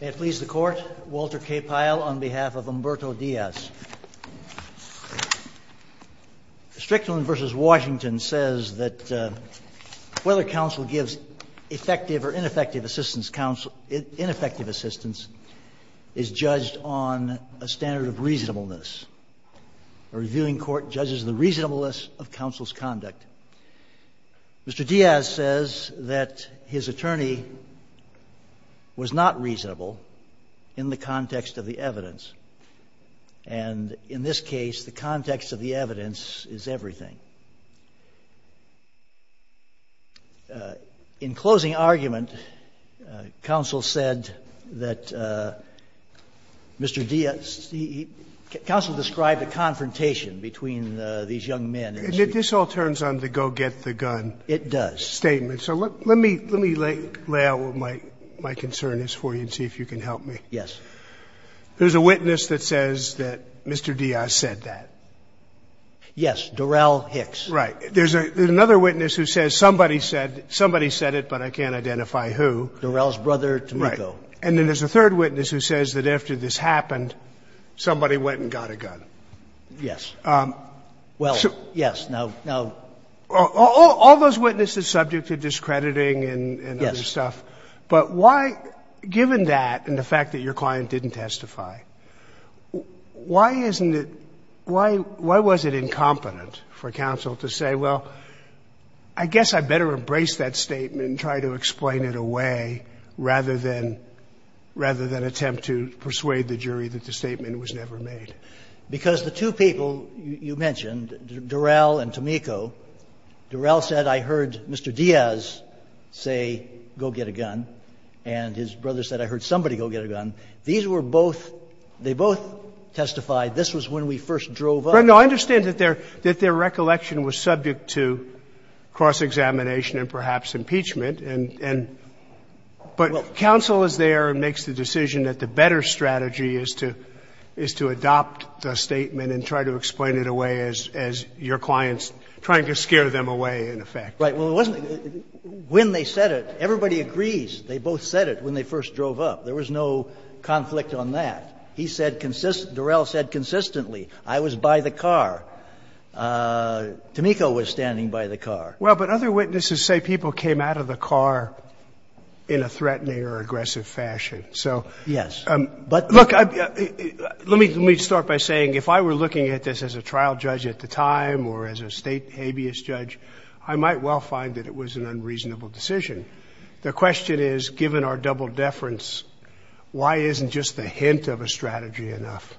May it please the Court, Walter K. Pyle on behalf of Humberto Diaz. Strickland v. Washington says that whether counsel gives effective or ineffective assistance is judged on a standard of reasonableness. A reviewing court judges the reasonableness of counsel's conduct. Mr. Diaz says that his attorney was not reasonable in the context of the evidence. And in this case, the context of the evidence is everything. In closing argument, counsel said that Mr. Diaz he he counsel described a confrontation between these young men. And this all turns on the go get the gun statement. So let me lay out what my concern is for you and see if you can help me. Yes. There is a witness that says that Mr. Diaz said that. Yes. Durell Hicks. Right. There's another witness who says somebody said it, but I can't identify who. Durell's brother, Tomiko. Right. And then there is a third witness who says that after this happened, somebody went and got a gun. Yes. Well, yes, no, no. All those witnesses subject to discrediting and other stuff. Yes. But why, given that and the fact that your client didn't testify, why isn't it why was it incompetent for counsel to say, well, I guess I better embrace that statement and try to explain it away rather than attempt to persuade the jury that the statement was never made? Because the two people you mentioned, Durell and Tomiko, Durell said, I heard Mr. Diaz say, go get a gun, and his brother said, I heard somebody go get a gun. These were both, they both testified this was when we first drove up. No, I understand that their recollection was subject to cross-examination and perhaps impeachment and, but counsel is there and makes the decision that the statement and try to explain it away as your client's trying to scare them away in effect. Right. Well, it wasn't, when they said it, everybody agrees they both said it when they first drove up. There was no conflict on that. He said, Durell said consistently, I was by the car. Tomiko was standing by the car. Well, but other witnesses say people came out of the car in a threatening or aggressive fashion. So. Yes. But look, let me, let me start by saying if I were looking at this as a trial judge at the time or as a state habeas judge, I might well find that it was an unreasonable decision. The question is, given our double deference, why isn't just the hint of a strategy enough?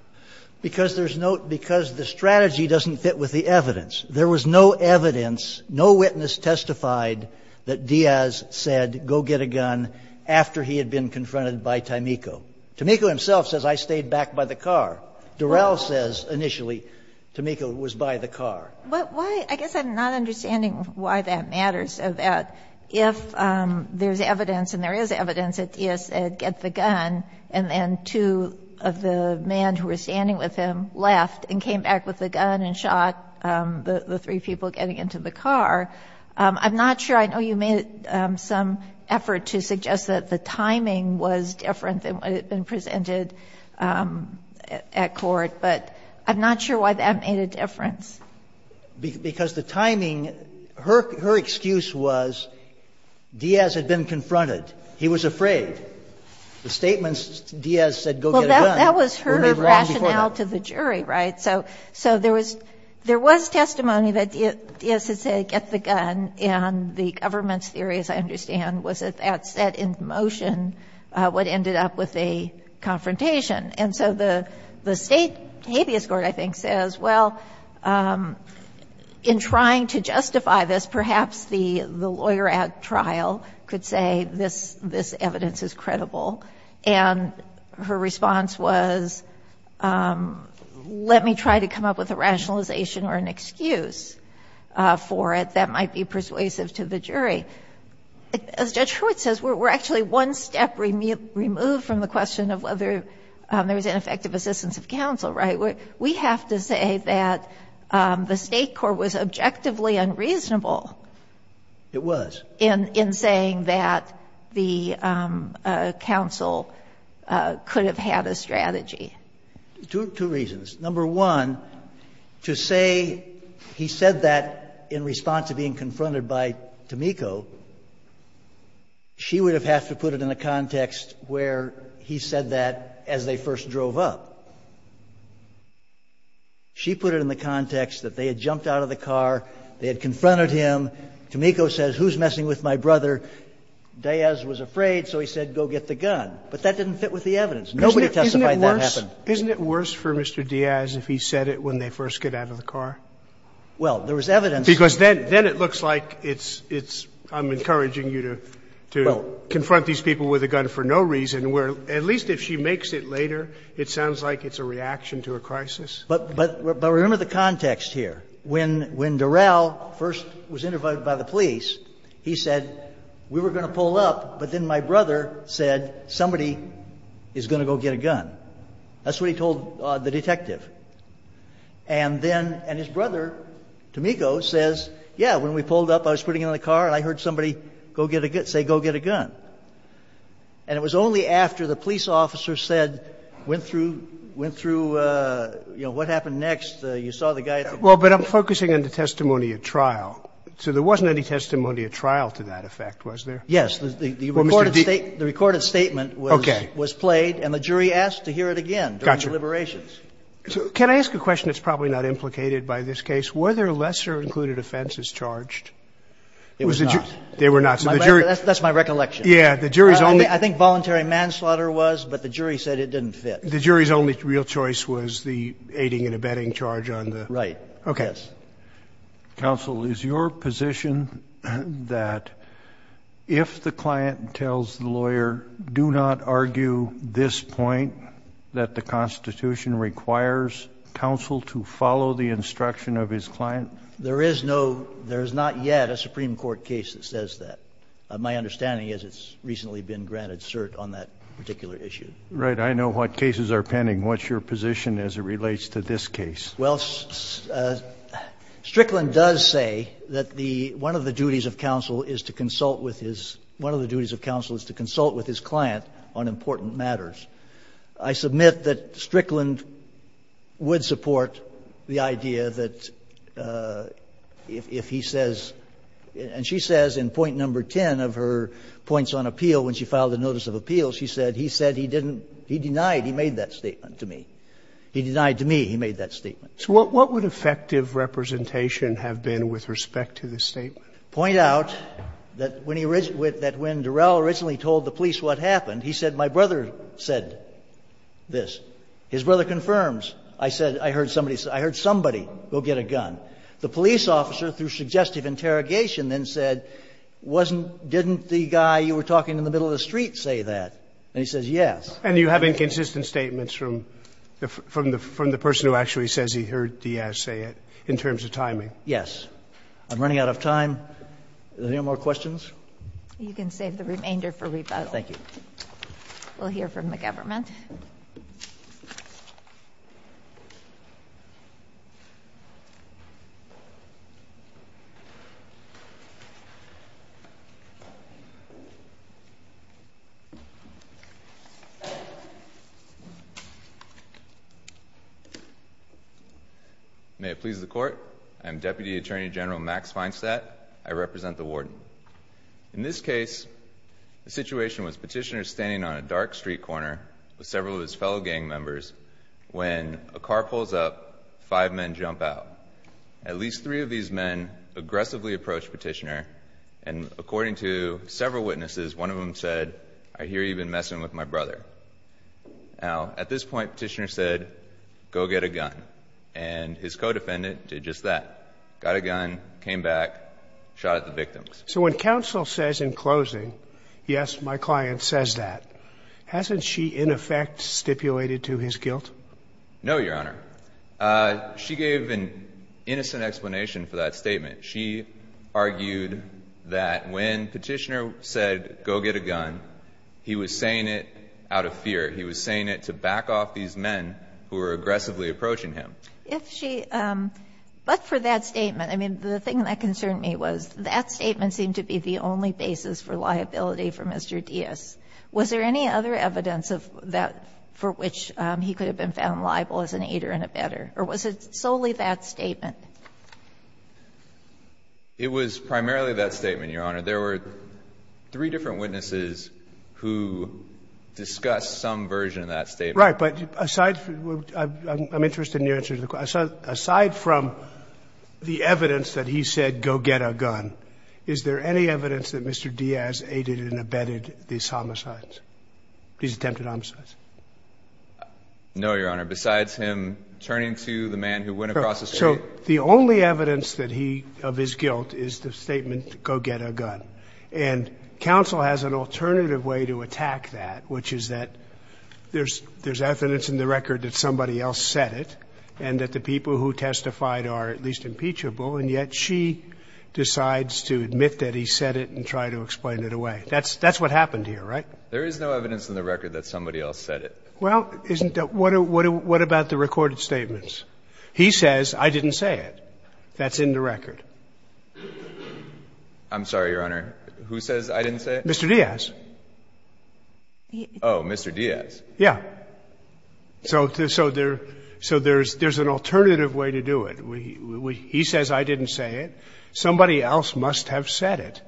Because there's no, because the strategy doesn't fit with the evidence. There was no evidence, no witness testified that Diaz said, go get a gun after he had been confronted by Tomiko. Tomiko himself says, I stayed back by the car. Durell says, initially, Tomiko was by the car. But why, I guess I'm not understanding why that matters, so that if there's evidence and there is evidence that Diaz said, get the gun, and then two of the men who were standing with him left and came back with the gun and shot the three people getting into the car. I'm not sure, I know you made some effort to suggest that the timing was different than what had been presented at court, but I'm not sure why that made a difference. Because the timing, her excuse was Diaz had been confronted. He was afraid. The statements, Diaz said, go get a gun, would be wrong before that. Well, that was her rationale to the jury, right? So there was testimony that Diaz had said, get the gun, and the government's jury, as I understand, was at that set in motion, what ended up with a confrontation. And so the state habeas court, I think, says, well, in trying to justify this, perhaps the lawyer at trial could say this evidence is credible. And her response was, let me try to come up with a rationalization or an excuse for it that might be persuasive to the jury. As Judge Hewitt says, we're actually one step removed from the question of whether there was ineffective assistance of counsel, right? We have to say that the State court was objectively unreasonable. It was. In saying that the counsel could have had a strategy. Two reasons. Number one, to say he said that in response to being confronted by Tomiko, she would have had to put it in a context where he said that as they first drove up. She put it in the context that they had jumped out of the car, they had confronted him, Tomiko says, who's messing with my brother, Diaz was afraid, so he said, go get the gun. But that didn't fit with the evidence. Nobody testified that happened. Isn't it worse for Mr. Diaz if he said it when they first get out of the car? Well, there was evidence. Because then it looks like it's, I'm encouraging you to confront these people with a gun for no reason, where at least if she makes it later, it sounds like it's a reaction to a crisis. But remember the context here. When Durell first was interviewed by the police, he said, we were going to pull up, but then my brother said, somebody is going to go get a gun. That's what he told the detective. And then his brother, Tomiko, says, yeah, when we pulled up, I was putting it in the car, and I heard somebody say, go get a gun. And it was only after the police officer said, went through, went through, you know, what happened next, you saw the guy at the door. Well, but I'm focusing on the testimony at trial. So there wasn't any testimony at trial to that effect, was there? Yes, the recorded statement was played, and the jury asked him. I think the jury asked him to hear it again during deliberations. So can I ask a question that's probably not implicated by this case? Were there lesser included offenses charged? It was not. They were not. So the jury. That's my recollection. Yeah. The jury's only. I think voluntary manslaughter was, but the jury said it didn't fit. The jury's only real choice was the aiding and abetting charge on the. Right. Okay. Yes. Counsel, is your position that if the client tells the lawyer, do not argue this point, that the Constitution requires counsel to follow the instruction of his client? There is no – there is not yet a Supreme Court case that says that. My understanding is it's recently been granted cert on that particular issue. Right. I know what cases are pending. What's your position as it relates to this case? Well, Strickland does say that the – one of the duties of counsel is to consult with his – one of the duties of counsel is to consult with his client on important matters. I submit that Strickland would support the idea that if he says – and she says in point number 10 of her points on appeal, when she filed a notice of appeal, she said he said he didn't – he denied he made that statement to me. He denied to me he made that statement. So what would effective representation have been with respect to this statement? Point out that when he – that when Durell originally told the police what happened, he said, my brother said this. His brother confirms, I said, I heard somebody – I heard somebody go get a gun. The police officer, through suggestive interrogation, then said, wasn't – didn't the guy you were talking to in the middle of the street say that? And he says, yes. And you have inconsistent statements from the person who actually says he heard Diaz say it in terms of timing? Yes. I'm running out of time. Any more questions? You can save the remainder for rebuttal. Thank you. We'll hear from the government. May it please the Court, I'm Deputy Attorney General Max Feinstadt. I represent the warden. In this case, the situation was Petitioner standing on a dark street corner with several of his fellow gang members when a car pulls up, five men jump out. At least three of these men aggressively approached Petitioner, and according to several witnesses, one of them said, I hear you've been messing with my brother. Now, at this point, Petitioner said, go get a gun. And his co-defendant did just that, got a gun, came back, shot at the victims. So when counsel says in closing, yes, my client says that, hasn't she in effect stipulated to his guilt? No, Your Honor. She gave an innocent explanation for that statement. She argued that when Petitioner said, go get a gun, he was saying it out of fear. He was saying it to back off these men who were aggressively approaching him. If she – but for that statement, I mean, the thing that concerned me was that statement didn't seem to be the only basis for liability for Mr. Diaz. Was there any other evidence of that for which he could have been found liable as an aider and a better, or was it solely that statement? It was primarily that statement, Your Honor. There were three different witnesses who discussed some version of that statement. Right. But aside – I'm interested in your answer to the question. Aside from the evidence that he said, go get a gun, is there any evidence that Mr. Diaz aided and abetted these homicides, these attempted homicides? No, Your Honor. Besides him turning to the man who went across the street? So the only evidence that he – of his guilt is the statement, go get a gun. And counsel has an alternative way to attack that, which is that there's evidence in the record that somebody else said it and that the people who testified are at least impeachable, and yet she decides to admit that he said it and try to explain it away. That's what happened here, right? There is no evidence in the record that somebody else said it. Well, isn't – what about the recorded statements? He says, I didn't say it. That's in the record. I'm sorry, Your Honor. Who says I didn't say it? Mr. Diaz. Oh, Mr. Diaz. Yeah. So there's an alternative way to do it. He says I didn't say it. Somebody else must have said it.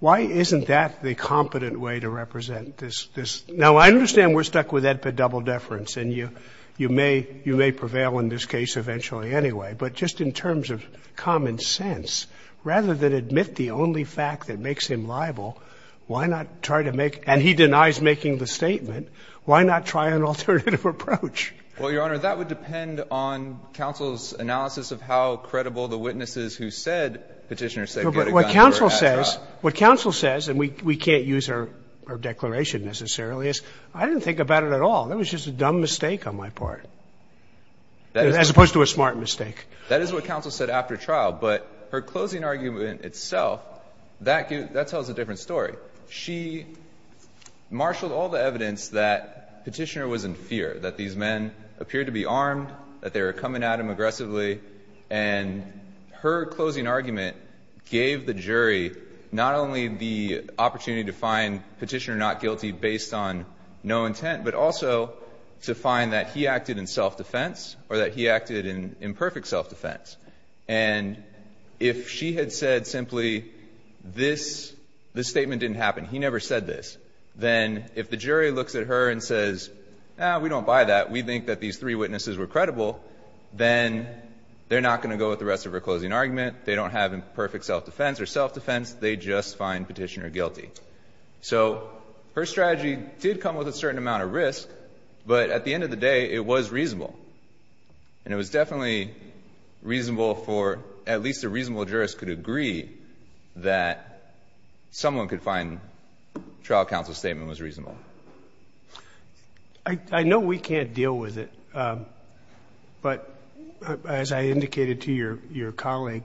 Why isn't that the competent way to represent this? Now, I understand we're stuck with EDPA double deference, and you may prevail in this case eventually anyway, but just in terms of common sense, rather than admit the only fact that makes him liable, why not try to make – and he denies making the statement – why not try an alternative approach? Well, Your Honor, that would depend on counsel's analysis of how credible the witnesses who said Petitioner said he had a gun were at trial. What counsel says, and we can't use her declaration necessarily, is I didn't think about it at all. That was just a dumb mistake on my part, as opposed to a smart mistake. That is what counsel said after trial, but her closing argument itself, that tells a different story. She marshaled all the evidence that Petitioner was in fear, that these men appeared to be armed, that they were coming at him aggressively, and her closing argument gave the jury not only the opportunity to find Petitioner not guilty based on no intent, but also to find that he acted in self-defense or that he acted in imperfect self-defense. And if she had said simply, this statement didn't happen, he never said this, then if the jury looks at her and says, no, we don't buy that, we think that these three witnesses were credible, then they're not going to go with the rest of her closing argument, they don't have imperfect self-defense or self-defense, they just find Petitioner guilty. So her strategy did come with a certain amount of risk, but at the end of the day, it was reasonable. And it was definitely reasonable for at least a reasonable jurist could agree that someone could find trial counsel's statement was reasonable. I know we can't deal with it, but as I indicated to your colleague,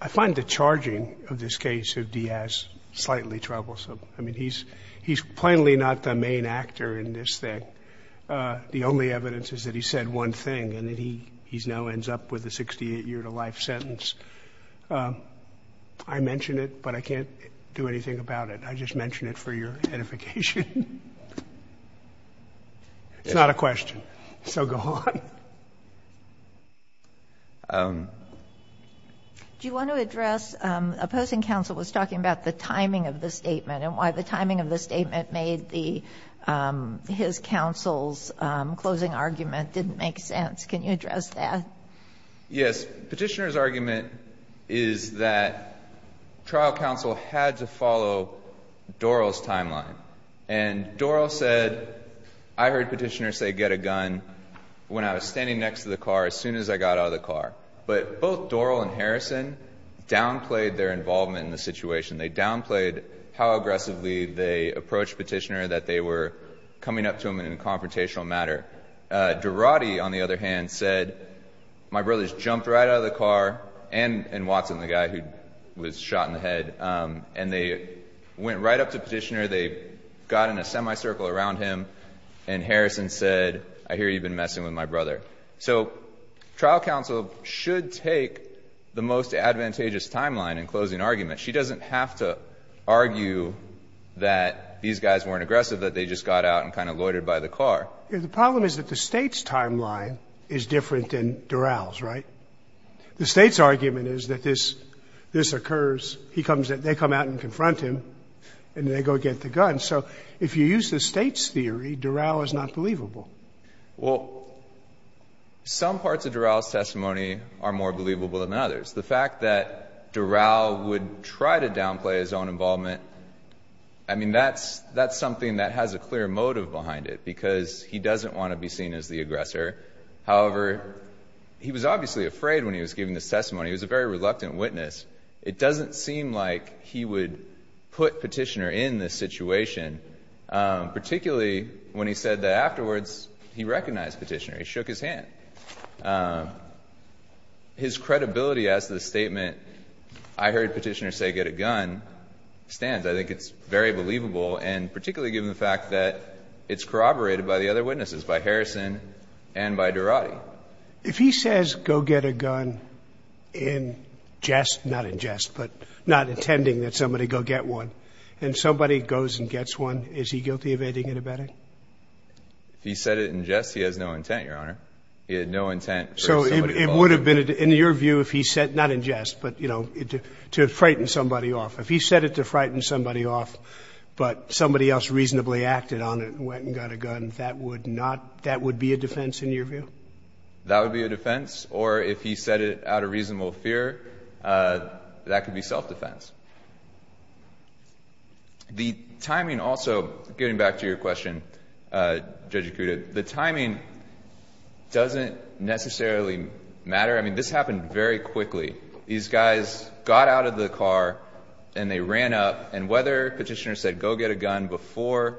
I find the charging of this case of Diaz slightly troublesome. I mean, he's plainly not the main actor in this thing. The only evidence is that he said one thing, and he now ends up with a 68-year-to-life sentence. I mention it, but I can't do anything about it. I just mention it for your edification. It's not a question, so go on. Do you want to address, opposing counsel was talking about the timing of the closing argument didn't make sense. Can you address that? Yes. Petitioner's argument is that trial counsel had to follow Doral's timeline. And Doral said, I heard Petitioner say get a gun when I was standing next to the car as soon as I got out of the car. But both Doral and Harrison downplayed their involvement in the situation. They downplayed how aggressively they approached Petitioner that they were coming up to him in a confrontational matter. Durati, on the other hand, said, my brother's jumped right out of the car, and Watson, the guy who was shot in the head. And they went right up to Petitioner. They got in a semicircle around him. And Harrison said, I hear you've been messing with my brother. So trial counsel should take the most advantageous timeline in closing arguments. She doesn't have to argue that these guys weren't aggressive, that they just got jumped out and kind of loitered by the car. The problem is that the State's timeline is different than Doral's, right? The State's argument is that this occurs, they come out and confront him, and they go get the gun. So if you use the State's theory, Doral is not believable. Well, some parts of Doral's testimony are more believable than others. The fact that Doral would try to downplay his own involvement, I mean, that's something that has a clear motive behind it, because he doesn't want to be seen as the aggressor. However, he was obviously afraid when he was giving this testimony. He was a very reluctant witness. It doesn't seem like he would put Petitioner in this situation, particularly when he said that afterwards he recognized Petitioner. He shook his hand. His credibility as to the statement, I heard Petitioner say, get a gun, stands. I think it's very believable, and particularly given the fact that it's corroborated by the other witnesses, by Harrison and by Durati. If he says go get a gun in jest, not in jest, but not intending that somebody go get one, and somebody goes and gets one, is he guilty of aiding and abetting? If he said it in jest, he has no intent, Your Honor. He had no intent for somebody to follow him. So it would have been, in your view, if he said, not in jest, but, you know, to frighten somebody off. If he said it to frighten somebody off, but somebody else reasonably acted on it and went and got a gun, that would not, that would be a defense in your view? That would be a defense. Or if he said it out of reasonable fear, that could be self-defense. The timing also, getting back to your question, Judge Acuda, the timing doesn't necessarily matter. I mean, this happened very quickly. These guys got out of the car and they ran up, and whether Petitioner said go get a gun before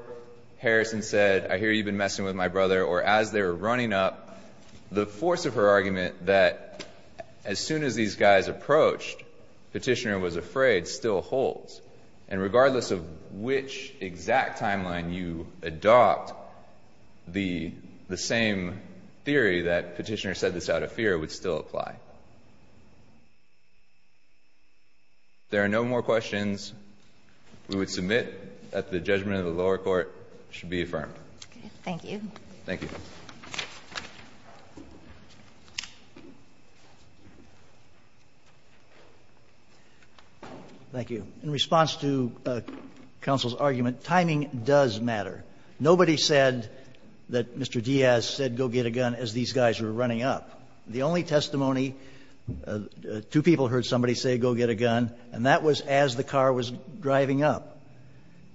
Harrison said, I hear you've been messing with my brother, or as they were running up, the force of her argument that as soon as these guys approached, Petitioner was afraid, still holds. And regardless of which exact timeline you adopt, the same theory that Petitioner said this out of fear would still apply. If there are no more questions, we would submit that the judgment of the lower court should be affirmed. Thank you. Thank you. Thank you. In response to counsel's argument, timing does matter. Nobody said that Mr. Diaz said go get a gun as these guys were running up. The only testimony, two people heard somebody say go get a gun, and that was as the car was driving up.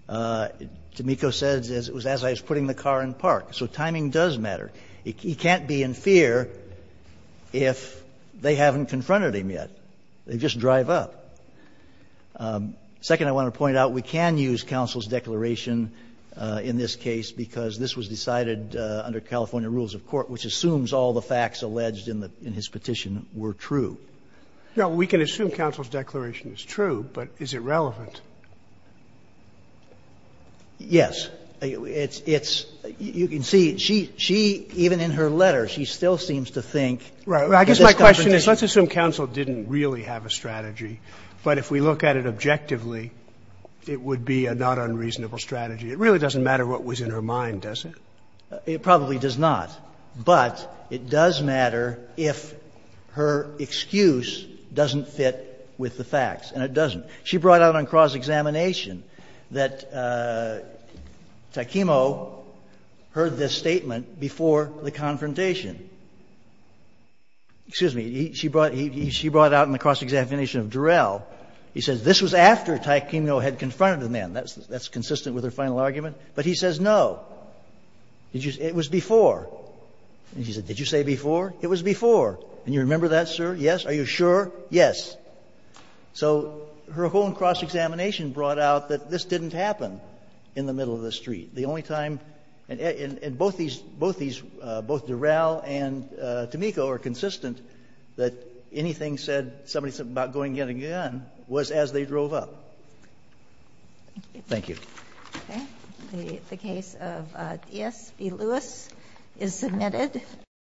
Tomiko says it was as I was putting the car in park. So timing does matter. He can't be in fear if they haven't confronted him yet. They just drive up. Second, I want to point out, we can use counsel's declaration in this case because this was decided under California rules of court, which assumes all the facts alleged in his petition were true. No, we can assume counsel's declaration is true, but is it relevant? Yes. It's you can see she even in her letter, she still seems to think. Right. I guess my question is let's assume counsel didn't really have a strategy. But if we look at it objectively, it would be a not unreasonable strategy. It really doesn't matter what was in her mind, does it? It probably does not. But it does matter if her excuse doesn't fit with the facts, and it doesn't. She brought out on cross-examination that Takemo heard this statement before the confrontation. Excuse me. She brought out in the cross-examination of Durell. He says this was after Takemo had confronted the man. That's consistent with her final argument. But he says, no, it was before. And she said, did you say before? It was before. And you remember that, sir? Yes. Are you sure? Yes. So her whole cross-examination brought out that this didn't happen in the middle of the street. The only time, and both these, both Durell and Tameko are consistent that anything said, somebody said about going again and again, was as they drove up. Thank you. Okay. The case of D.S. v. Lewis is submitted.